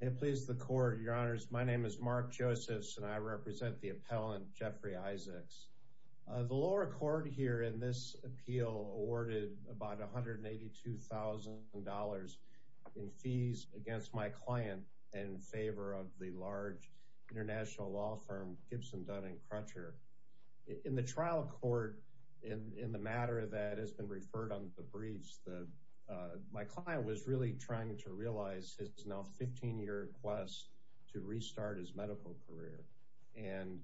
It pleases the court, your honors. My name is Mark Josephs and I represent the appellant Jeffrey Isaacs. The lower court here in this appeal awarded about $182,000 in fees against my client in favor of the large international law firm Gibson Dunn and Crutcher. In the trial court, in the matter that has been referred on the briefs, my client was really trying to realize his now 15-year quest to restart his medical career and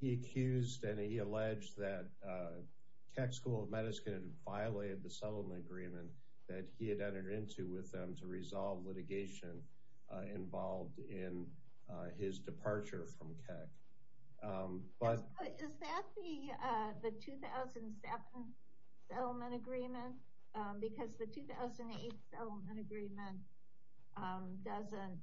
he accused and he alleged that Keck School of Medicine violated the settlement agreement that he had entered into with them to resolve litigation involved in his departure from Keck. Is that the 2007 settlement agreement? Because the 2008 settlement agreement doesn't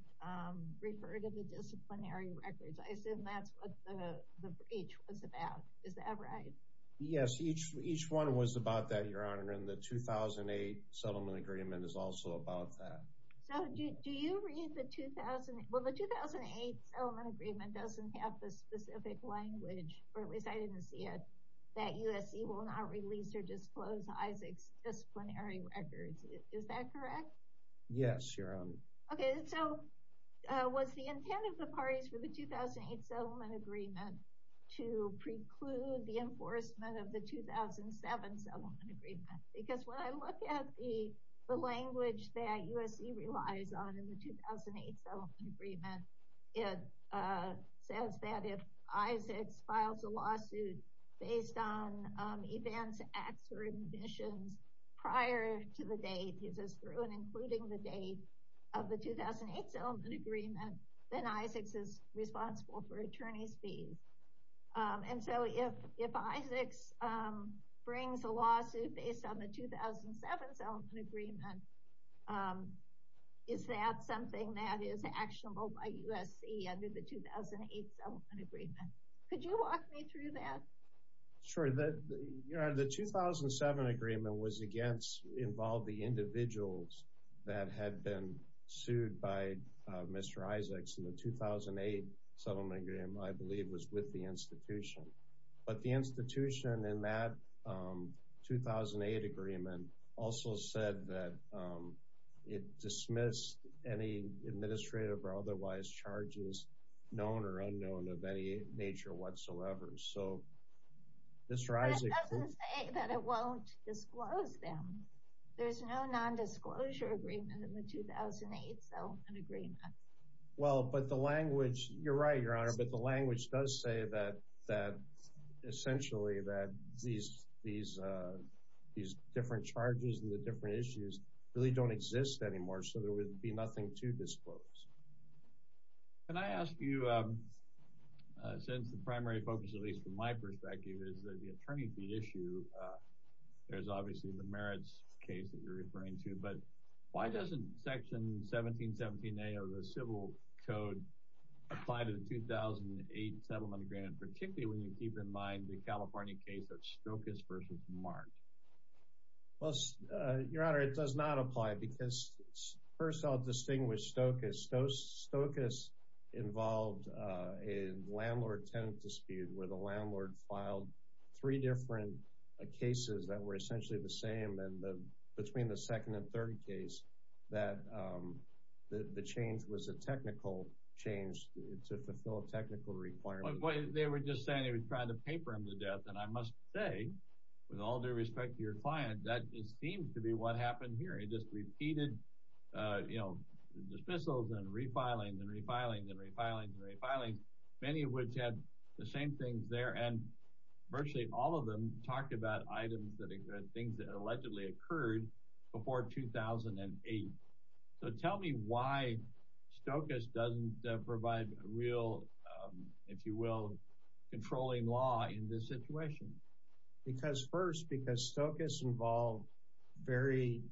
refer to the disciplinary records. I assume that's what the breach was about. Is that right? Yes, each each one was about that, your honor, and the 2008 settlement agreement is also about that. So do you read the 2008, well the 2008 settlement agreement doesn't have the specific language, or at least I didn't see it, that USC will not release or disclose Isaacs disciplinary records. Is that correct? Yes, your honor. Okay, so was the intent of the parties for the 2008 settlement agreement to preclude the enforcement of the 2007 settlement agreement? Because when I look at the language that USC relies on in the 2008 settlement agreement, it says that if Isaacs files a lawsuit based on events, acts, or ambitions prior to the date, he says through and including the date of the 2008 settlement agreement, then Isaacs is responsible for attorney's fees. And so if Isaacs brings a lawsuit based on the 2007 settlement agreement, is that something that is actionable by USC under the 2008 settlement agreement? Could you walk me through that? Sure, the 2007 agreement was against, involved the individuals that had been sued by Mr. Isaacs in the 2008 settlement agreement, I believe was with the institution. But the institution in that 2008 agreement also said that it dismissed any administrative or otherwise charges, known or unknown of any nature whatsoever. So Mr. Isaacs... But it doesn't say that it won't disclose them. There's no non-disclosure agreement in the 2008 settlement agreement. Well, but the language, you're right, your honor, but the language does say that essentially that these different charges and the different issues really don't exist anymore, so there would be nothing to disclose. Can I ask you, since the primary focus, at least from my perspective, is that the attorney fee issue, there's obviously the merits case that you're referring to, but why doesn't Section 1717A of the Civil Code apply to the 2008 settlement agreement, particularly when you keep in mind the California case of Stokas versus Mark? Well, your honor, it does not apply because, first, I'll distinguish Stokas. Stokas involved a landlord-tenant dispute where the landlord filed three different cases that were essentially the same, and between the second and third case, that the change was a technical change to fulfill a technical requirement. They were just saying they were trying to pay for him to death, and I must say, with all due respect to your client, that just seems to be what happened here. He just repeated, you know, dismissals and refilings and refilings and refilings and refilings, many of which had the same things there, and virtually all of them talked about items that, things that allegedly occurred before 2008. So tell me why Stokas doesn't provide a real, if you will, controlling law in this situation. Because, first, because Stokas involved very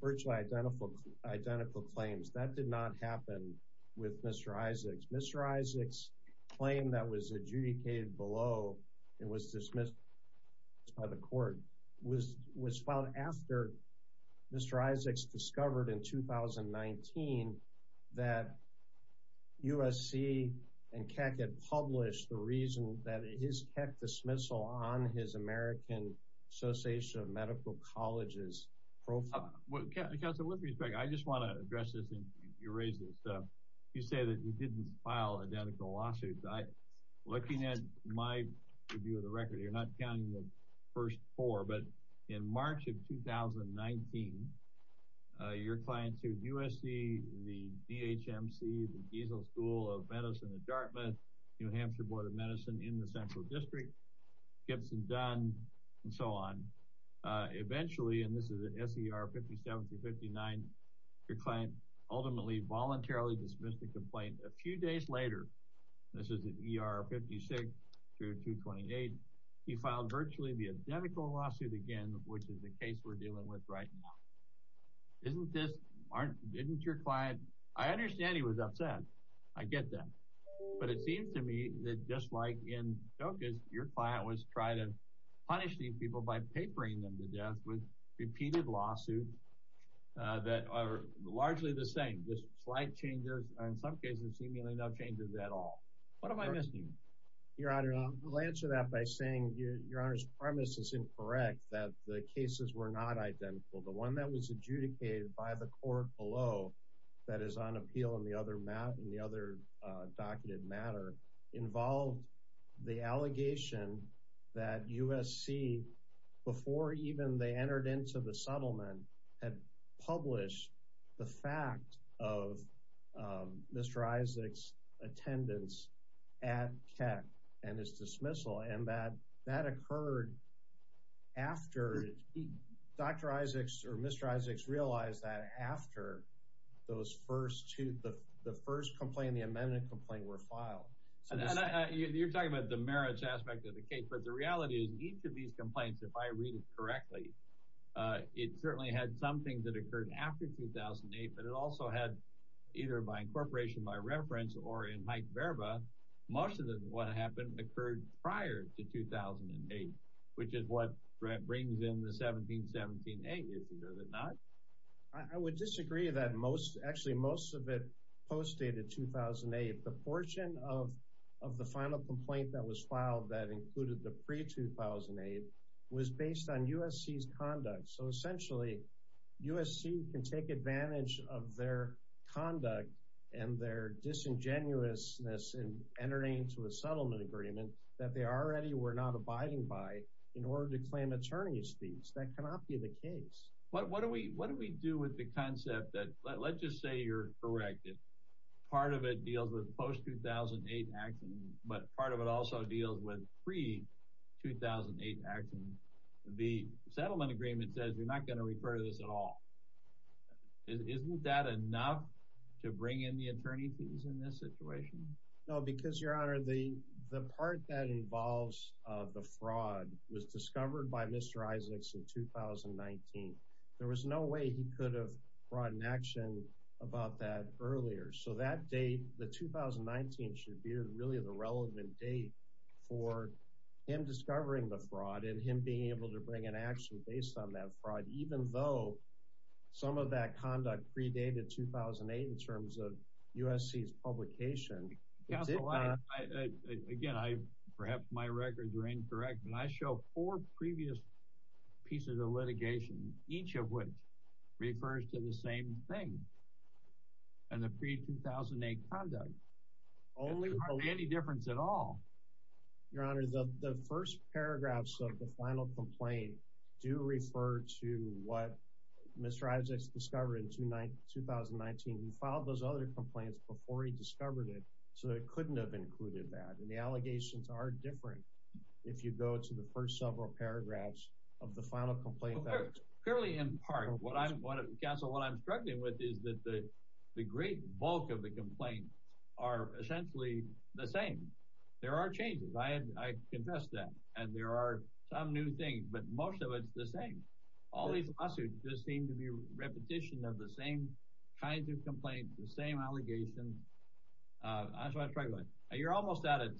virtually identical claims. That did not happen with Mr. Isaacs. Mr. Isaacs' claim that was adjudicated below and was dismissed by the court was filed after Mr. Isaacs discovered in 2019 that USC and Keck had published the reason that his Keck dismissal on his American Association of Medical Colleges profile. Well, Counsel, with respect, I just want to address this, and you raised this. You say that you didn't file identical lawsuits. Looking at my review of the record, you're not the first four, but in March of 2019, your client sued USC, the DHMC, the Diesel School of Medicine at Dartmouth, New Hampshire Board of Medicine in the Central District, Gibson, Dunn, and so on. Eventually, and this is at SER 57-59, your client ultimately voluntarily dismissed the complaint. A few days later, this is at ER 56-228, he filed virtually the identical lawsuit again, which is the case we're dealing with right now. I understand he was upset. I get that. But it seems to me that, just like in Stokas, your client was trying to punish these people by papering them to death with repeated lawsuits that are largely the same, just slight changes, and in some cases, seemingly no changes at all. What am I missing? Your Honor, I'll answer that by saying your Honor's premise is incorrect, that the cases were not identical. The one that was adjudicated by the court below that is on appeal in the other documented matter involved the allegation that USC, before even they entered into the settlement, had published the fact of Mr. Isaac's attendance at Keck and his dismissal, and that that occurred after Dr. Isaacs or Mr. Isaacs realized that after those first two, the first complaint, the amendment complaint, were filed. You're talking about the merits aspect of the case, but the reality is each of these complaints, if I read it correctly, it certainly had something that occurred after 2008, but it also had, either by incorporation, by reference, or in Mike Verba, most of what happened occurred prior to 2008, which is what brings in the 1717A issue, does it not? I would disagree that most, actually most of it, postdated 2008. The portion of the final complaint that was filed that included the pre-2008 was based on USC's conduct. So essentially, USC can take advantage of their conduct and their disingenuousness in entering into a settlement agreement that they already were not abiding by in order to claim attorney's fees. That cannot be the case. What do we do with the concept that, let's just say you're correct, part of it deals with post-2008 action, but part of it also deals with pre-2008 action. The settlement agreement says we're not going to refer to this at all. Isn't that enough to bring in the attorney fees in this situation? No, because your honor, the part that involves the fraud was discovered by Mr. Isaacs in 2019. There was no way he could have brought an action about that earlier. So that date, the 2019 should be really the relevant date for him discovering the fraud and him being able to bring an action based on that fraud, even though some of that conduct predated 2008 in terms of USC's publication. Again, perhaps my records are incorrect, but I show four previous pieces of litigation, each of which refers to the same thing and the pre-2008 conduct. There's hardly any difference at all. Your honor, the first paragraphs of the final complaint do refer to what Mr. Isaacs discovered in 2019. He filed those other complaints before he discovered it, so it couldn't have included that. And the allegations are different if you go to the first several paragraphs of the final complaint. Clearly in part. Counsel, what I'm struggling with is that the great bulk of the complaints are essentially the same. There are changes. I confess that. And there are some new things, but most of it's the same. All these lawsuits just seem to be repetition of the same kinds of complaints, the same allegations. That's what I'm struggling with. You're almost out of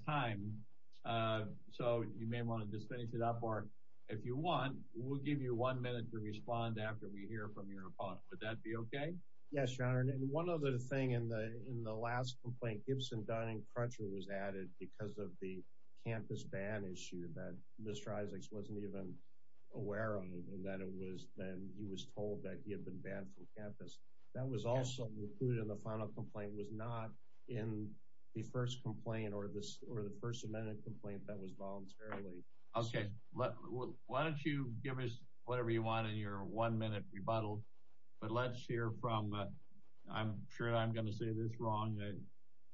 one minute to respond after we hear from your opponent. Would that be okay? Yes, your honor. And one other thing in the last complaint, Gibson, Dunn, and Crutcher was added because of the campus ban issue that Mr. Isaacs wasn't even aware of and that he was told that he had been banned from campus. That was also included in the final complaint. It was not in the first complaint or the first amendment complaint that was voluntarily. Okay. Why don't you give us whatever you want in your one-minute rebuttal, but let's hear from, I'm sure I'm going to say this wrong,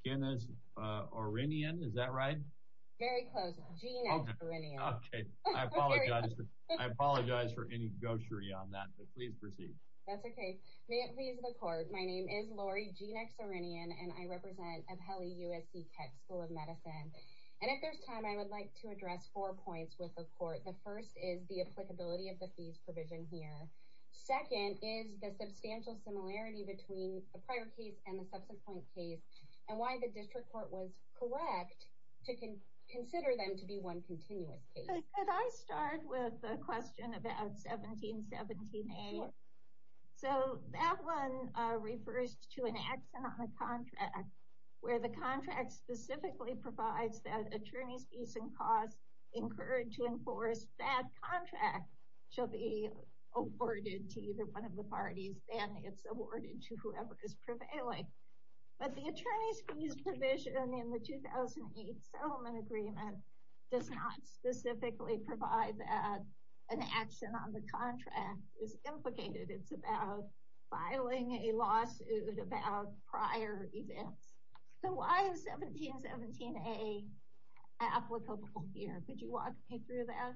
Guinness Orinion. Is that right? Very close. Genex Orinion. Okay. I apologize. I apologize for any goshery on that, but please proceed. That's okay. May it please the court. My name is Lori Genex Orinion, and I represent the court. The first is the applicability of the fees provision here. Second is the substantial similarity between the prior case and the subsequent case and why the district court was correct to consider them to be one continuous case. Could I start with a question about 1717A? So that one refers to an accident on the contract where the contract specifically provides that attorney's fees and costs incurred to enforce that contract shall be awarded to either one of the parties and it's awarded to whoever is prevailing. But the attorney's fees provision in the 2008 settlement agreement does not specifically provide that an action on the contract is implicated. It's about filing a case. So why is 1717A applicable here? Could you walk me through that?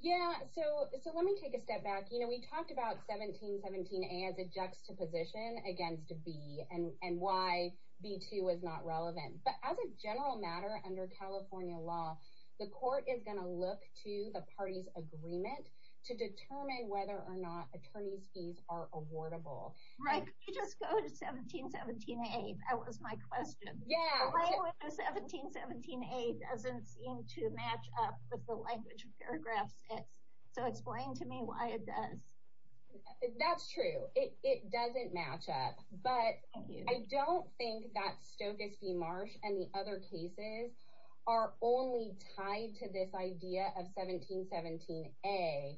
Yeah. So let me take a step back. We talked about 1717A as a juxtaposition against a B and why B2 was not relevant. But as a general matter under California law, the court is going to look to the party's agreement to determine whether or not attorney's fees are awardable. Could you just go to 1717A? That was my question. 1717A doesn't seem to match up with the language of paragraph 6. So explain to me why it does. That's true. It doesn't match up. But I don't think that Stokes v. Marsh and the other cases are only tied to this idea of 1717A.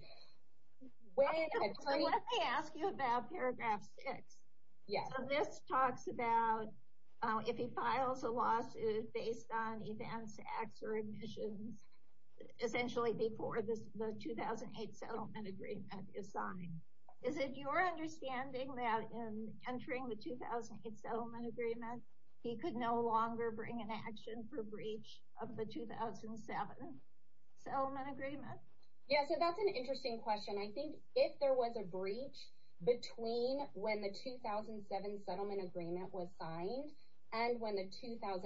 So let me ask you about paragraph 6. So this talks about if he files a lawsuit based on events, acts, or admissions, essentially before the 2008 settlement agreement is signed. Is it your understanding that in entering the 2008 settlement agreement, he could no longer bring an action for breach of the 2007 settlement agreement? Yeah. So that's an interesting question. I think if there was a breach between when the 2007 settlement agreement was signed and when the 2008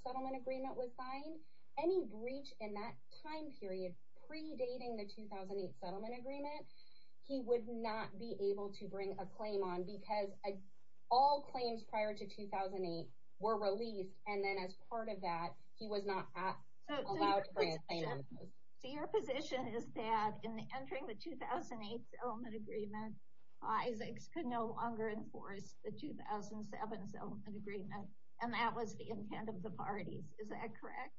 settlement agreement was signed, any breach in that time period predating the 2008 settlement agreement, he would not be able to bring a claim on because all claims prior to 2008 were released. And then as part of that, he was not allowed to bring a claim. So your position is that in entering the 2008 settlement agreement, Isaacs could no longer enforce the 2007 settlement agreement. And that was the intent of the parties. Is that correct?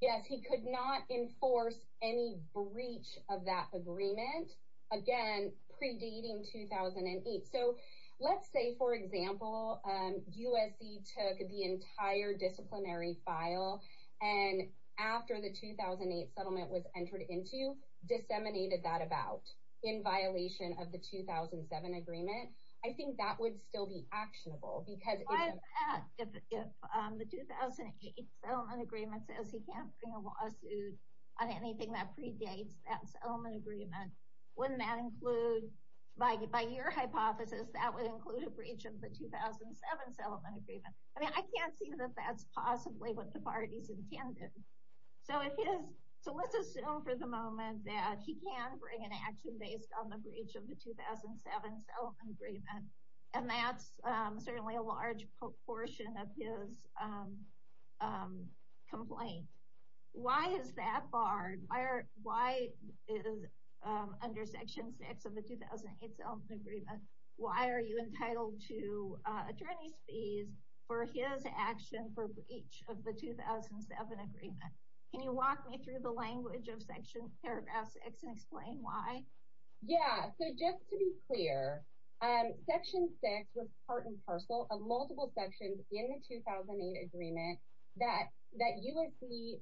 Yes. He could not enforce any breach of that agreement, again, predating 2008. So let's say, for example, USC took the entire disciplinary file, and after the 2008 settlement was entered into, disseminated that about in violation of the 2007 agreement. I think that would still be actionable. Why is that? If the 2008 settlement agreement says he can't bring a lawsuit on anything that predates that settlement agreement, wouldn't that include, by your hypothesis, that would include a breach of the 2007 settlement agreement? I mean, I can't see that that's possibly what the parties intended. So let's assume for the moment that he can bring an action based on the breach of the 2007 settlement agreement. And that's certainly a large portion of his complaint. Why is that barred? Why is under Section 6 of the 2008 settlement agreement, why are you entitled to attorney's fees for his action for breach of the 2007 agreement? Can you walk me through the language of Section, Paragraph 6, and explain why? Yeah. So just to be clear, Section 6 was part and parcel of multiple sections in the 2008 agreement that USC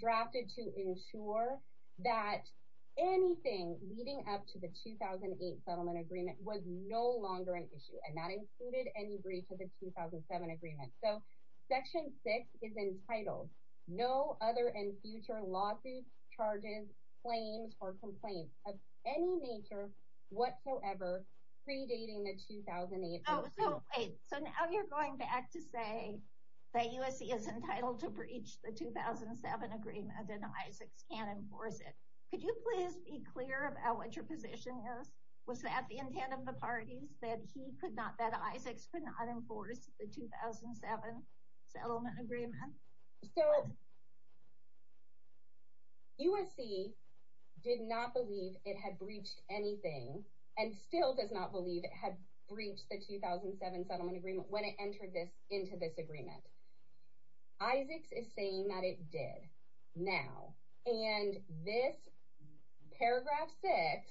drafted to ensure that anything leading up to the 2008 settlement agreement was no longer an issue, and that included any breach of the 2007 agreement. So Section 6 is entitled, no other and future lawsuits, charges, claims, or complaints of any nature whatsoever predating the 2008 settlement agreement. Oh, so wait. So now you're going back to say that USC is entitled to breach the 2007 agreement and Isaacs can't enforce it. Could you please be clear about what your position is? Was that the intent of the parties, that he could not, that Isaacs could not enforce the 2007 settlement agreement? So USC did not believe it had breached anything, and still does not believe it had breached the 2007 settlement agreement when it entered this into this agreement. Isaacs is saying that it did now, and this Paragraph 6,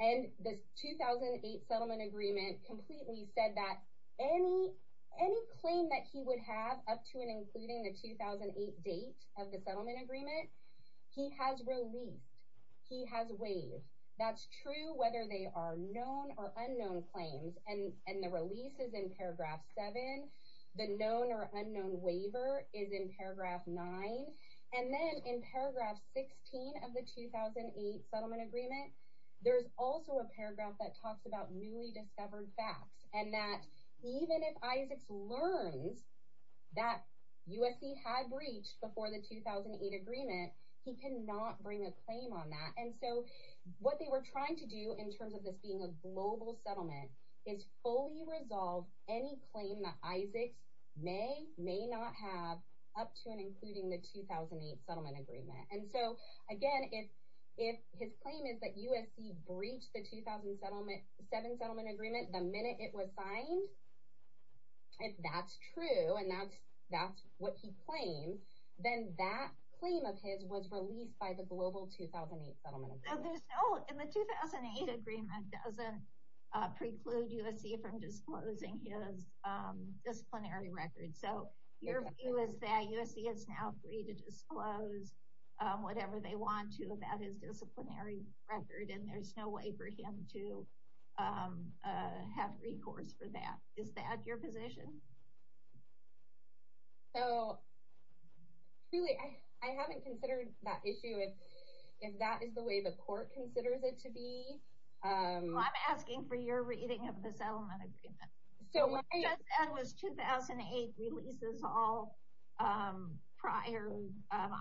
and this 2008 settlement agreement completely said that any claim that he would have up to and including the 2008 date of the claims, and the release is in Paragraph 7, the known or unknown waiver is in Paragraph 9, and then in Paragraph 16 of the 2008 settlement agreement, there's also a paragraph that talks about newly discovered facts, and that even if Isaacs learns that USC had breached before the 2008 agreement, he cannot bring a claim on that. And so what they were trying to do in terms of this being a global settlement, is fully resolve any claim that Isaacs may, may not have up to and including the 2008 settlement agreement. And so again, if, if his claim is that USC breached the 2007 settlement agreement, the minute it was signed, if that's true, and that's, that's what he claims, then that claim of his was released by the global 2008 settlement agreement. There's no, and the 2008 agreement doesn't preclude USC from disclosing his disciplinary record. So your view is that USC is now free to disclose whatever they want to about his disciplinary record, and there's no way for him to have recourse for that. Is that your position? So really, I, I haven't considered that issue if, if that is the way the court considers it to be. I'm asking for your reading of the settlement agreement. So what I just said was 2008 releases all prior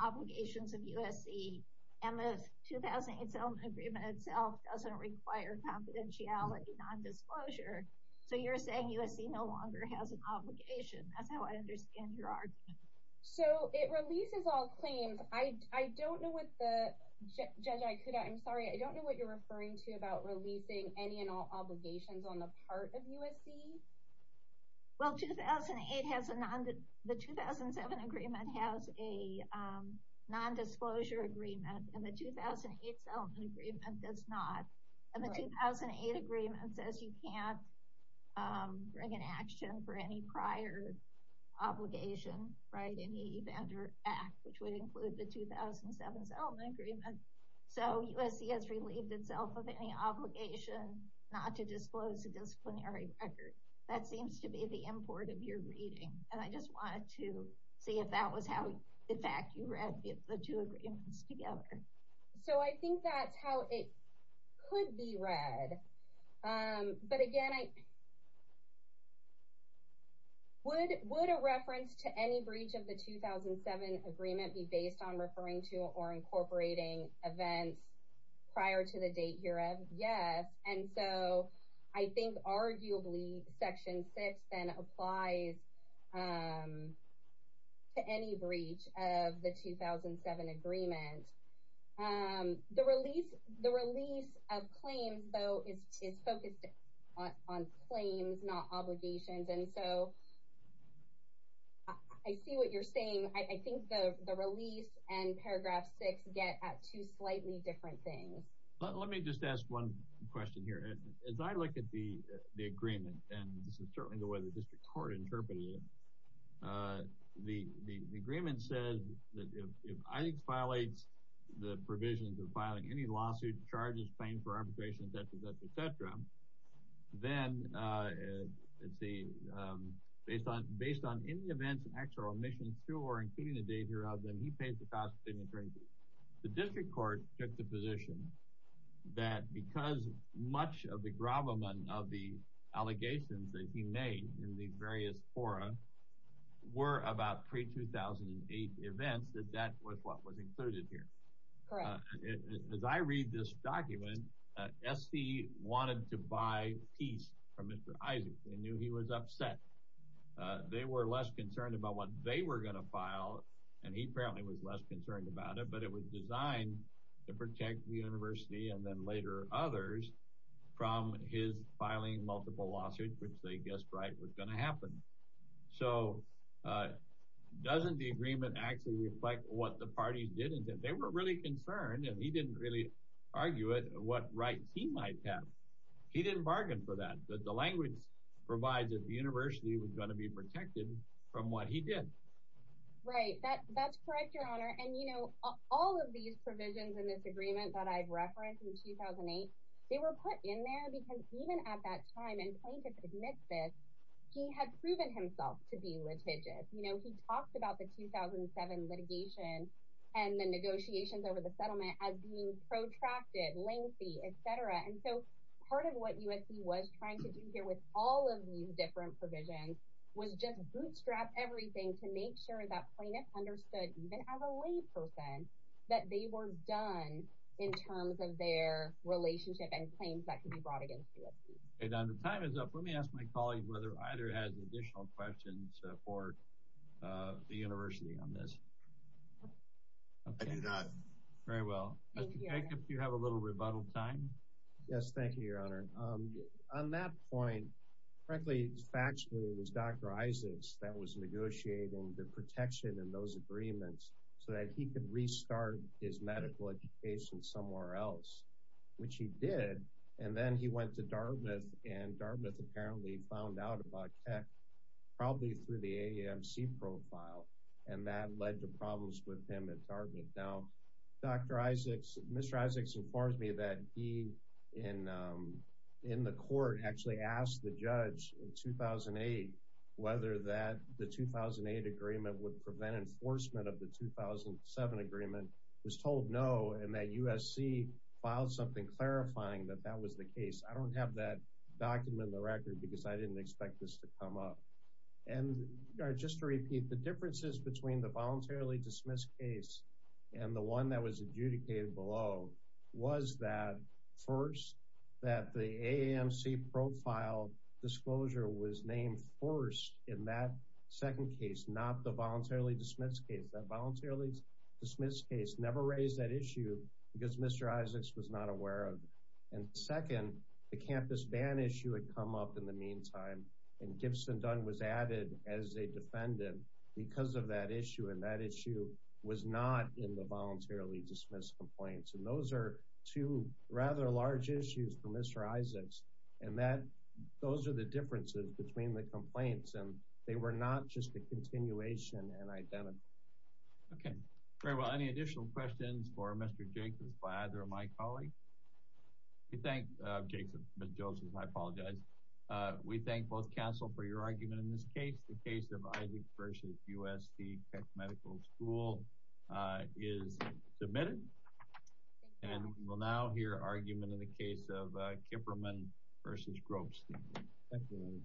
obligations of USC, and the 2008 settlement agreement itself doesn't require confidentiality, non-disclosure. So you're saying USC no longer has an obligation. That's how I understand your argument. So it releases all claims. I, I don't know what the, Judge Aikuda, I'm sorry, I don't know what you're referring to about releasing any and all obligations on the part of USC. Well, 2008 has a non, the 2007 agreement has a non-disclosure agreement, and the 2008 settlement agreement does not. And the 2008 agreement says you can't bring an action for any prior obligation, right, in the Evander Act, which would include the 2007 settlement agreement. So USC has relieved itself of any obligation not to disclose a disciplinary record. That seems to be the import of your reading, and I just wanted to see if that was how, in fact, you read the two agreements together. So I think that's how it could be read. But again, I, would, would a reference to any breach of the 2007 agreement be based on referring to or incorporating events prior to the date hereof? Yes. And so I think arguably Section 6 then applies to any breach of the 2007 agreement. The release, the release of claims, though, is, is focused on, on claims, not obligations. And so I see what you're saying. I think the, the release and Paragraph 6 get at two slightly different things. Let me just ask one question here. As I look at the, the agreement, and this is certainly the way the District Court interpreted it, the, the, the agreement says that if, if IDES violates the provisions of filing any lawsuit, charges, claim for arbitration, et cetera, et cetera, et cetera, then it's the, based on, based on any events and acts or omissions through or including the date hereof, then he pays the cost of the attorney. The District Court took the position that because much of the gravamen of the allegations that he made in these various fora were about pre-2008 events, that that was what was included here. Correct. As I read this document, SC wanted to buy peace from Mr. Isaacs. They knew he was upset. They were less concerned about what they were going to file, and he apparently was less concerned about it, but it was designed to protect the University and then later others from his filing multiple lawsuits, which they guessed right was going to happen. So, doesn't the agreement actually reflect what the parties did? They were really concerned, and he didn't really argue it, what rights he might have. He didn't bargain for that. The language provides that the University was going to be protected from what he did. Right. That, that's correct, Your Honor. And, you know, all of these provisions in this agreement that I've referenced in 2008, they were put in there because even at that time, and Plaintiff admits this, he had proven himself to be litigious. You know, he talked about the 2007 litigation and the negotiations over the settlement as being protracted, lengthy, etc., and so part of what USC was trying to do here with all of these different provisions was just bootstrap everything to make sure that Plaintiff understood, even as a layperson, that they were done in terms of their relationship and claims that could be brought against USC. Okay, Don, the time is up. Let me ask my colleague whether either has additional questions for the University on this. I do not. Very well. Mr. Jacob, do you have a little rebuttal time? Yes, thank you, Your Honor. On that point, frankly, factually, it was Dr. Isaacs that was negotiating the protection in those agreements so that he could restart his medical education somewhere else, which he did. And then he went to Dartmouth, and Dartmouth apparently found out about tech probably through the AAMC profile, and that led to problems with him at Dartmouth. Now, Dr. Isaacs, Mr. Isaacs informed me that he in the court actually asked the judge in 2008 whether that the 2008 agreement would prevent enforcement of the 2007 agreement, was told no, and that USC filed something clarifying that that was the case. I don't have that document on the record because I didn't expect this to come up. And just to repeat, the differences between the voluntarily dismissed case and the one that was adjudicated below was that first, that the AAMC profile disclosure was named first in that second case, not the voluntarily dismissed case. That voluntarily dismissed case never raised that issue because Mr. Isaacs was not aware of. And second, the campus ban issue had come up in the meantime, and Gibson Dunn was added as a defendant because of that issue, and that issue was not in the complaints. And those are two rather large issues for Mr. Isaacs, and that those are the differences between the complaints, and they were not just a continuation and identical. Okay, very well. Any additional questions for Mr. Jacobs, Vlad, or my colleague? We thank Jason, Mr. Joseph, I apologize. We thank both counsel for your argument in this case. The case of Isaacs versus USD Peck Medical School is submitted, and we'll now hear argument in the case of Kipperman versus Gropstein.